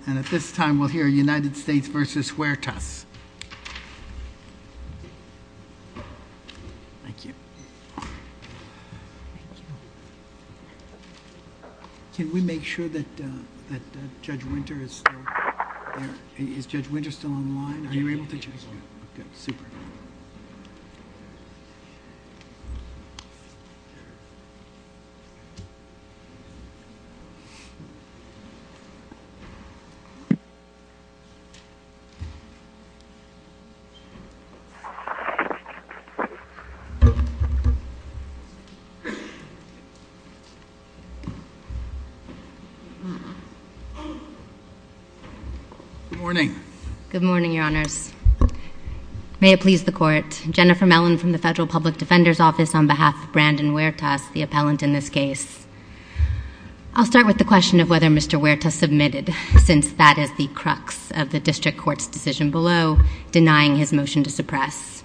rtas. Thank you. Can we make sure that Judge Winter is still online? Are you able to? Super. Good morning. Good morning, Your Honors. May it please the Court. Jennifer Mellon from the Federal Public Defender's Office on behalf of Brandon Hu rtas, the appellant in this case. I'll start with the question of whether Mr. Hu rtas submitted, since that is the crux of the District Court's decision below denying his motion to suppress.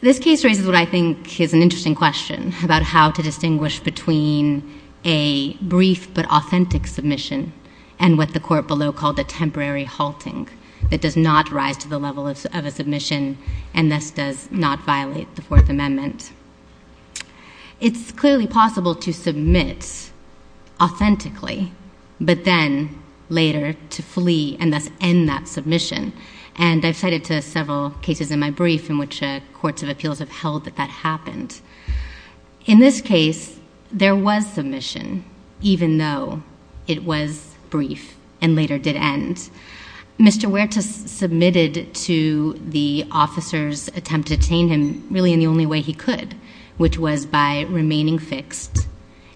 This case raises what I think is an interesting question about how to distinguish between a brief but authentic submission and what the Court below called a temporary halting that does not rise to the level of a submission and thus does not violate the Fourth Amendment. It's clearly possible to submit authentically but then later to flee and thus end that submission, and I've cited to several cases in my brief in which courts of appeals have held that that happened. In this case, there was submission, even though it was brief and later did end. Mr. Hu rtas submitted to the officers' attempt to detain him really in the only way he could, which was by remaining fixed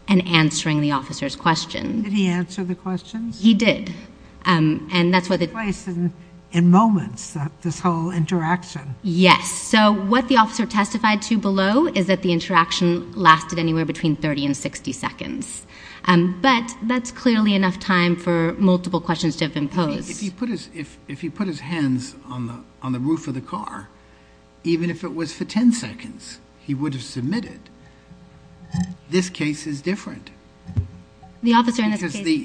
and answering the officers' questions. Did he answer the questions? He did. And that's what the— Twice in moments, this whole interaction. Yes. So what the officer testified to below is that the interaction lasted anywhere between 30 and 60 seconds, but that's clearly enough time for multiple questions to have been posed. If he put his hands on the roof of the car, even if it was for 10 seconds, he would have submitted. This case is different. The officer in this case— Wait for the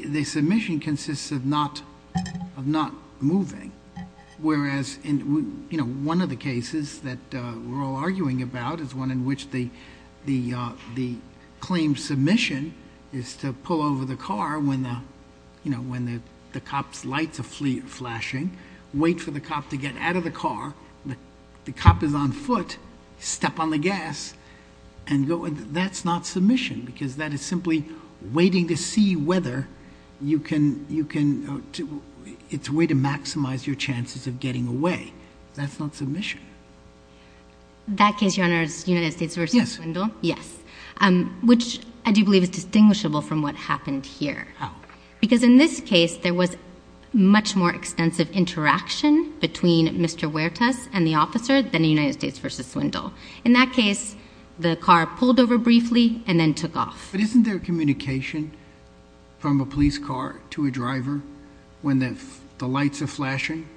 cop to get out of the car. The cop is on foot. Step on the gas and go. That's not submission because that is simply waiting to see whether you can—it's a way to maximize your chances of getting away. That's not submission. That case, Your Honor, is United States v. Swindle? Yes. Yes. Which I do believe is distinguishable from what happened here. How? Because in this case, there was much more extensive interaction between Mr. Hu rtas and the officer than in United States v. Swindle. In that case, the car pulled over briefly and then took off. But isn't there communication from a police car to a driver when the lights are flashing?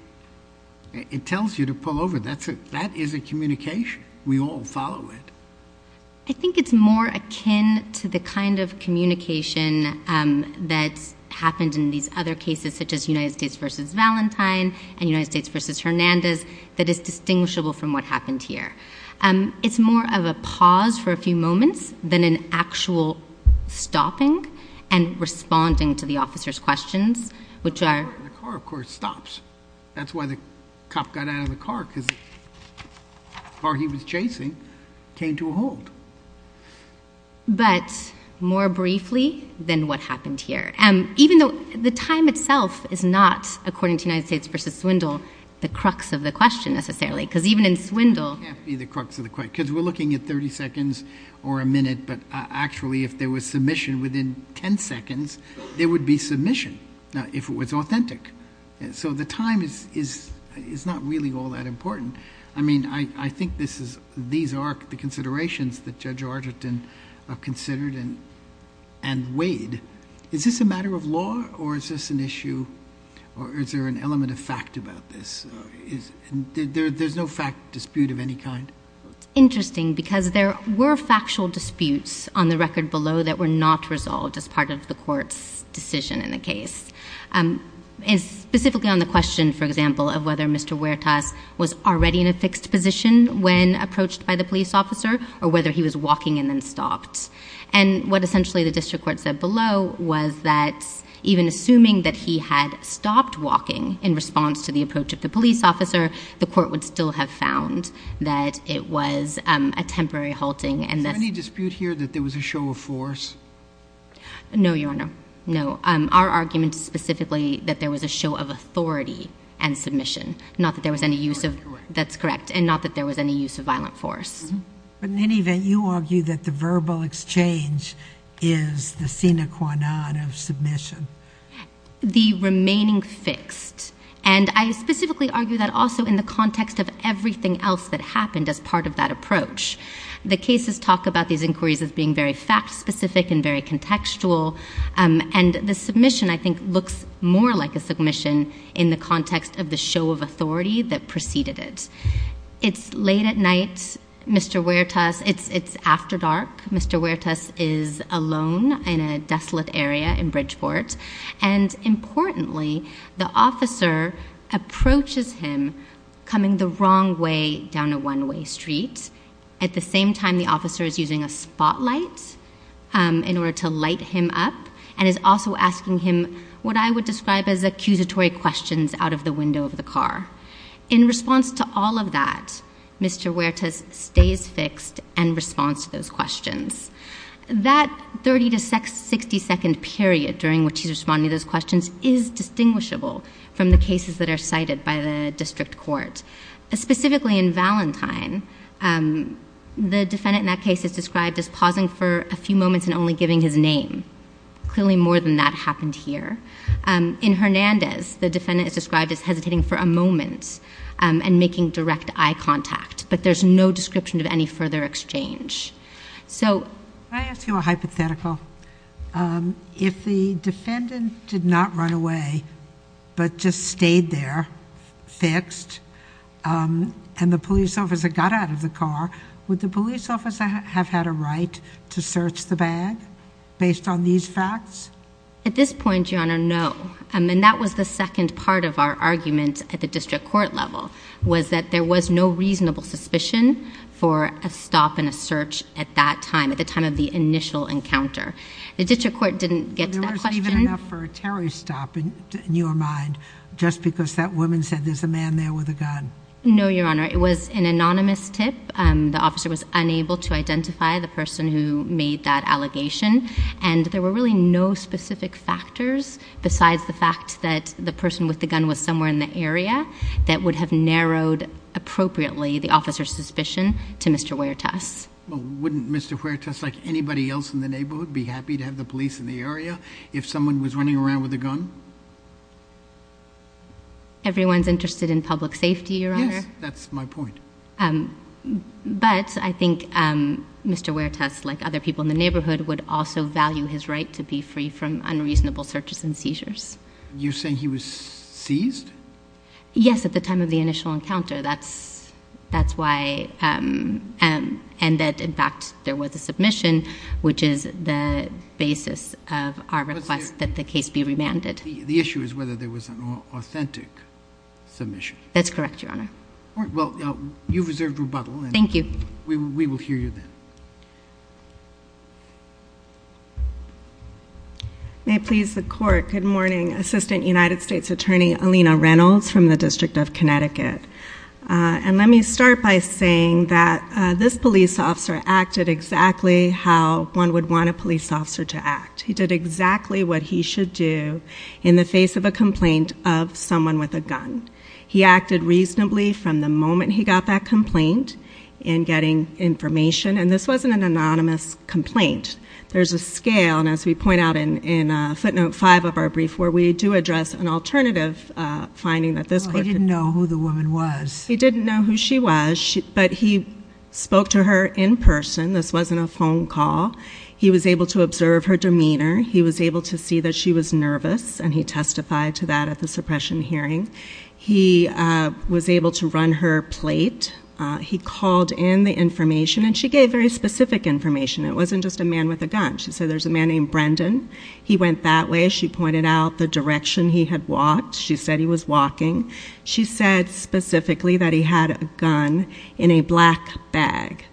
It tells you to pull over. That is a communication. We all follow it. I think it's more akin to the kind of communication that's happened in these other cases such as United States v. Valentine and United States v. Hernandez that is distinguishable from what happened here. It's more of a pause for a few moments than an actual stopping and responding to the officer's questions, which are— The car, of course, stops. That's why the cop got out of the car because the car he was chasing came to a halt. But more briefly than what happened here, even though the time itself is not, according to United States v. Swindle, the crux of the question necessarily because even in Swindle— It can't be the crux of the question because we're looking at 30 seconds or a minute, but actually if there was submission within 10 seconds, there would be submission if it was authentic. So the time is not really all that important. I mean, I think these are the considerations that Judge Argerton considered and weighed. Is this a matter of law or is this an issue or is there an element of fact about this? There's no fact dispute of any kind. It's interesting because there were factual disputes on the record below that were not resolved as part of the court's decision in the case. Specifically on the question, for example, of whether Mr. Huertas was already in a fixed position when approached by the police officer or whether he was walking and then stopped. And what essentially the district court said below was that even assuming that he had stopped walking in response to the approach of the police officer, the court would still have found that it was a temporary halting. Is there any dispute here that there was a show of force? No, Your Honor. No. Our argument is specifically that there was a show of authority and submission, not that there was any use of— That's correct. That's correct, and not that there was any use of violent force. But in any event, you argue that the verbal exchange is the sine qua non of submission. The remaining fixed, and I specifically argue that also in the context of everything else that happened as part of that approach. The cases talk about these inquiries as being very fact-specific and very contextual, and the submission, I think, looks more like a submission in the context of the show of authority that preceded it. It's late at night. Mr. Huertas—it's after dark. Mr. Huertas is alone in a desolate area in Bridgeport. And importantly, the officer approaches him coming the wrong way down a one-way street. At the same time, the officer is using a spotlight in order to light him up and is also asking him what I would describe as accusatory questions out of the window of the car. In response to all of that, Mr. Huertas stays fixed and responds to those questions. That 30 to 60-second period during which he's responding to those questions is distinguishable from the cases that are cited by the district court. Specifically in Valentine, the defendant in that case is described as pausing for a few moments and only giving his name. Clearly more than that happened here. In Hernandez, the defendant is described as hesitating for a moment and making direct eye contact, but there's no description of any further exchange. So— Can I ask you a hypothetical? If the defendant did not run away but just stayed there fixed and the police officer got out of the car, would the police officer have had a right to search the bag based on these facts? At this point, Your Honor, no. And that was the second part of our argument at the district court level, was that there was no reasonable suspicion for a stop and a search at that time, at the time of the initial encounter. The district court didn't get to that question— There wasn't even enough for a terrorist stop in your mind just because that woman said there's a man there with a gun? No, Your Honor. It was an anonymous tip. The officer was unable to identify the person who made that allegation, and there were really no specific factors besides the fact that the person with the gun was somewhere in the area that would have narrowed appropriately the officer's suspicion to Mr. Huertas. Well, wouldn't Mr. Huertas, like anybody else in the neighborhood, be happy to have the police in the area if someone was running around with a gun? Everyone's interested in public safety, Your Honor. Yes, that's my point. But I think Mr. Huertas, like other people in the neighborhood, would also value his right to be free from unreasonable searches and seizures. You're saying he was seized? Yes, at the time of the initial encounter. That's why—and that, in fact, there was a submission, which is the basis of our request that the case be remanded. The issue is whether there was an authentic submission. That's correct, Your Honor. Well, you've reserved rebuttal. Thank you. We will hear you then. May it please the Court, good morning. Assistant United States Attorney Alina Reynolds from the District of Connecticut. And let me start by saying that this police officer acted exactly how one would want a police officer to act. He did exactly what he should do in the face of a complaint of someone with a gun. He acted reasonably from the moment he got that complaint in getting information. And this wasn't an anonymous complaint. There's a scale, and as we point out in footnote 5 of our brief, where we do address an alternative finding that this person— Well, he didn't know who the woman was. He didn't know who she was, but he spoke to her in person. This wasn't a phone call. He was able to observe her demeanor. He was able to see that she was nervous, and he testified to that at the suppression hearing. He was able to run her plate. He called in the information, and she gave very specific information. It wasn't just a man with a gun. She said, there's a man named Brendan. He went that way. She pointed out the direction he had walked. She said he was walking. She said specifically that he had a gun in a black bag.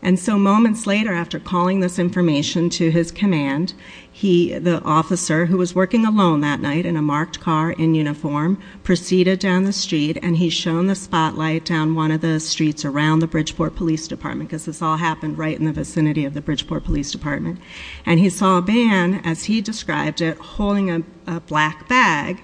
And so moments later, after calling this information to his command, the officer, who was working alone that night in a marked car in uniform, proceeded down the street, and he shone the spotlight down one of the streets around the Bridgeport Police Department, because this all happened right in the vicinity of the Bridgeport Police Department. And he saw a man, as he described it, holding a black bag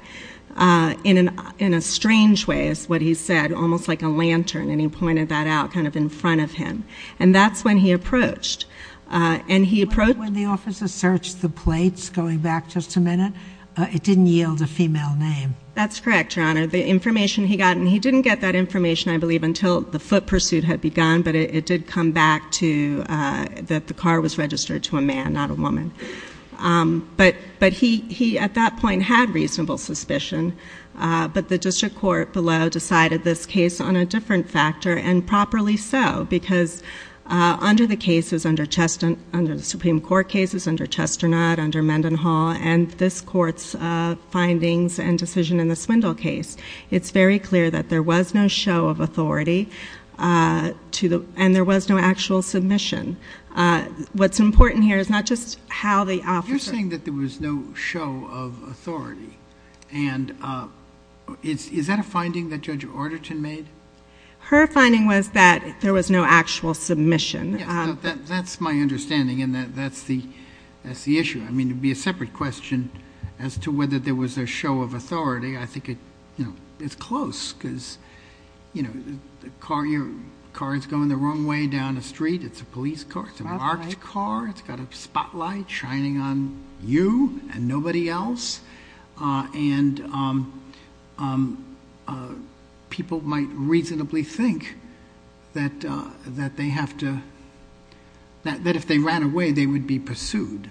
in a strange way, is what he said, almost like a lantern, and he pointed that out kind of in front of him. And that's when he approached. And he approached. When the officer searched the plates, going back just a minute, it didn't yield a female name. That's correct, Your Honor. The information he got, and he didn't get that information, I believe, until the foot pursuit had begun, but it did come back that the car was registered to a man, not a woman. But he, at that point, had reasonable suspicion. But the district court below decided this case on a different factor, and properly so, because under the cases, under the Supreme Court cases, under Chesternaught, under Mendenhall, and this Court's findings and decision in the Swindle case, it's very clear that there was no show of authority, and there was no actual submission. What's important here is not just how the officer ---- Is that a finding that Judge Arderton made? Her finding was that there was no actual submission. Yes. That's my understanding, and that's the issue. I mean, it would be a separate question as to whether there was a show of authority. I think it's close because, you know, the car is going the wrong way down the street. It's a police car. It's a marked car. It's got a spotlight shining on you and nobody else. And people might reasonably think that they have to ---- that if they ran away, they would be pursued.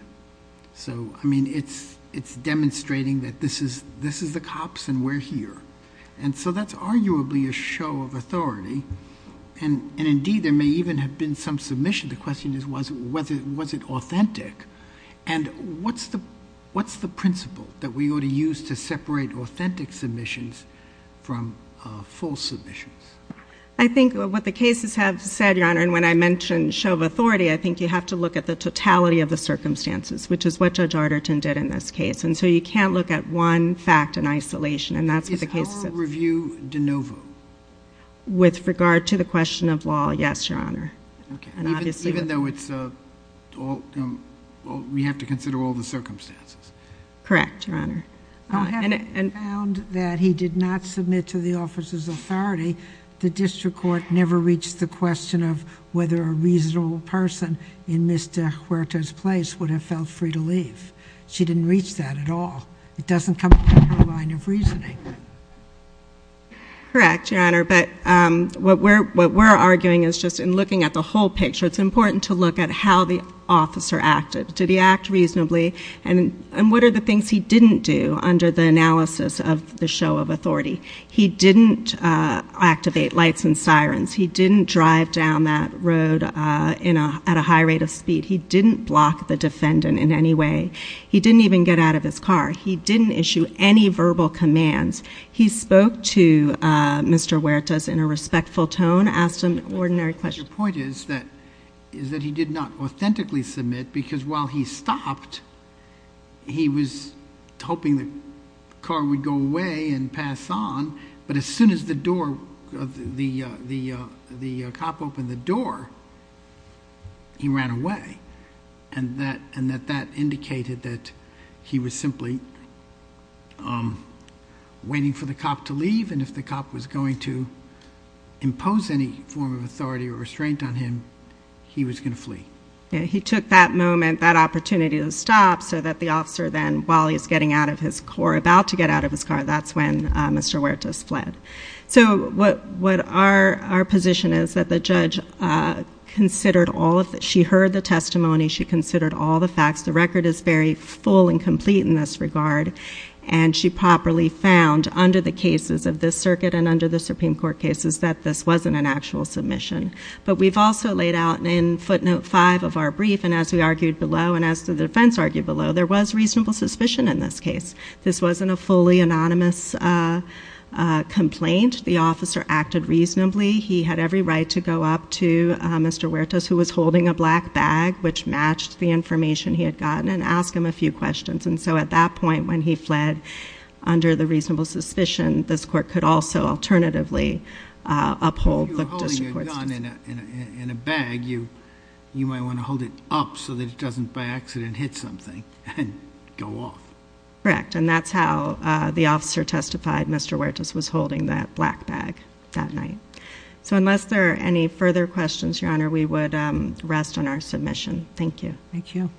So, I mean, it's demonstrating that this is the cops and we're here. And so that's arguably a show of authority. And, indeed, there may even have been some submission. The question is, was it authentic? And what's the principle that we ought to use to separate authentic submissions from false submissions? I think what the cases have said, Your Honor, and when I mentioned show of authority, I think you have to look at the totality of the circumstances, which is what Judge Arderton did in this case. And so you can't look at one fact in isolation, and that's what the cases have said. Is oral review de novo? With regard to the question of law, yes, Your Honor. Even though it's all ---- we have to consider all the circumstances. Correct, Your Honor. And found that he did not submit to the officer's authority, the district court never reached the question of whether a reasonable person in Ms. De Huerta's place would have felt free to leave. She didn't reach that at all. It doesn't come from her line of reasoning. Correct, Your Honor. But what we're arguing is just in looking at the whole picture, it's important to look at how the officer acted. Did he act reasonably? And what are the things he didn't do under the analysis of the show of authority? He didn't activate lights and sirens. He didn't drive down that road at a high rate of speed. He didn't block the defendant in any way. He didn't even get out of his car. He didn't issue any verbal commands. He spoke to Mr. Huerta in a respectful tone, asked an ordinary question. Your point is that he did not authentically submit because while he stopped, he was hoping the car would go away and pass on, but as soon as the cop opened the door, he ran away, and that indicated that he was simply waiting for the cop to leave, and if the cop was going to impose any form of authority or restraint on him, he was going to flee. He took that moment, that opportunity to stop so that the officer then, while he was getting out of his car, about to get out of his car, that's when Mr. Huerta fled. So what our position is that the judge considered all of this. She heard the testimony. She considered all the facts. The record is very full and complete in this regard, and she properly found under the cases of this circuit and under the Supreme Court cases that this wasn't an actual submission, but we've also laid out in footnote five of our brief, and as we argued below and as the defense argued below, there was reasonable suspicion in this case. This wasn't a fully anonymous complaint. The officer acted reasonably. He had every right to go up to Mr. Huerta, who was holding a black bag, which matched the information he had gotten, and ask him a few questions, and so at that point when he fled under the reasonable suspicion, this court could also alternatively uphold the district court's decision. If you were holding a gun in a bag, you might want to hold it up so that it doesn't by accident hit something and go off. Correct, and that's how the officer testified. Mr. Huerta was holding that black bag that night. So unless there are any further questions, Your Honor, we would rest on our submission. Thank you. Thank you.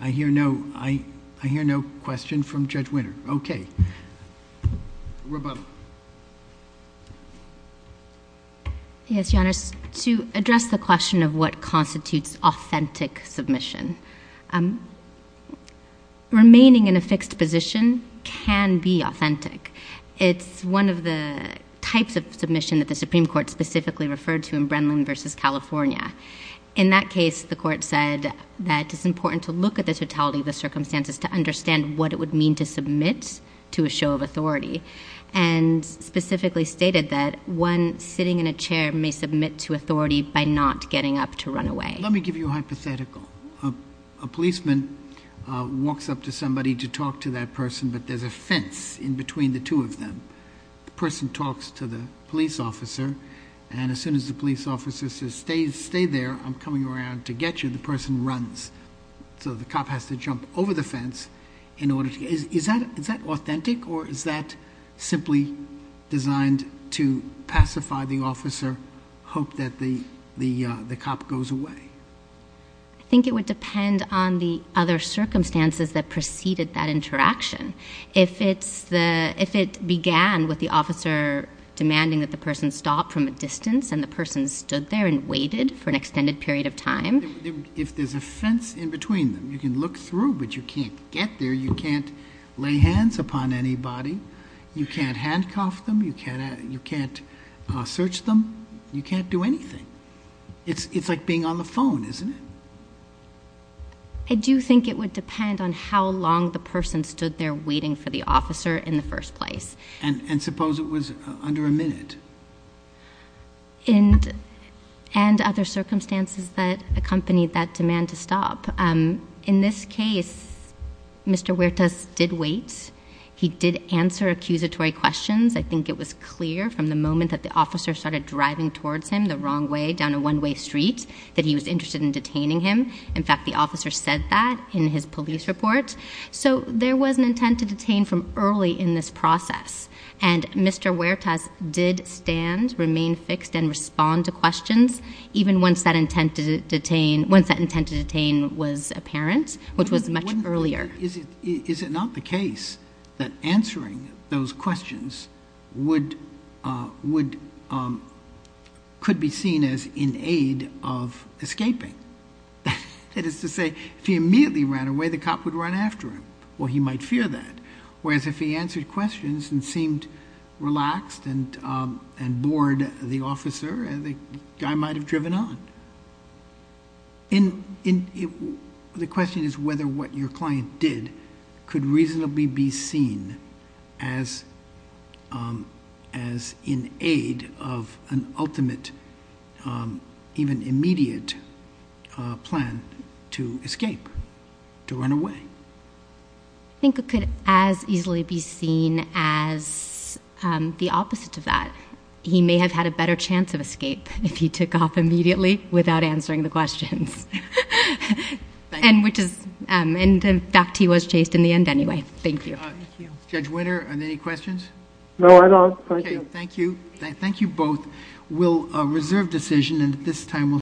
I hear no question from Judge Winter. Okay. Rebecca. Yes, Your Honor. To address the question of what constitutes authentic submission, remaining in a fixed position can be authentic. It's one of the types of submission that the Supreme Court specifically referred to in Brennan v. California. In that case, the court said that it's important to look at the totality of the circumstances to understand what it would mean to submit to a show of authority, and specifically stated that one sitting in a chair may submit to authority by not getting up to run away. Let me give you a hypothetical. A policeman walks up to somebody to talk to that person, but there's a fence in between the two of them. The person talks to the police officer, and as soon as the police officer says, stay there, I'm coming around to get you, the person runs. So the cop has to jump over the fence in order to get you. Is that authentic, or is that simply designed to pacify the officer, hope that the cop goes away? I think it would depend on the other circumstances that preceded that interaction. If it began with the officer demanding that the person stop from a distance and the person stood there and waited for an extended period of time. If there's a fence in between them, you can look through, but you can't get there, you can't lay hands upon anybody, you can't handcuff them, you can't search them, you can't do anything. It's like being on the phone, isn't it? I do think it would depend on how long the person stood there waiting for the officer in the first place. And suppose it was under a minute. And other circumstances that accompanied that demand to stop. In this case, Mr. Huertas did wait. He did answer accusatory questions. I think it was clear from the moment that the officer started driving towards him the wrong way, down a one-way street, that he was interested in detaining him. In fact, the officer said that in his police report. So there was an intent to detain from early in this process. And Mr. Huertas did stand, remain fixed, and respond to questions, even once that intent to detain was apparent, which was much earlier. Is it not the case that answering those questions could be seen as in aid of escaping? That is to say, if he immediately ran away, the cop would run after him. Well, he might fear that. Whereas if he answered questions and seemed relaxed and bored, the officer, the guy might have driven on. The question is whether what your client did could reasonably be seen as in aid of an ultimate, even immediate plan to escape, to run away. I think it could as easily be seen as the opposite of that. He may have had a better chance of escape if he took off immediately without answering the questions. And in fact, he was chased in the end anyway. Thank you. Thank you. Judge Winter, are there any questions? No, I'm done. Thank you. Okay. Thank you. Thank you both. We'll reserve decision and at this time...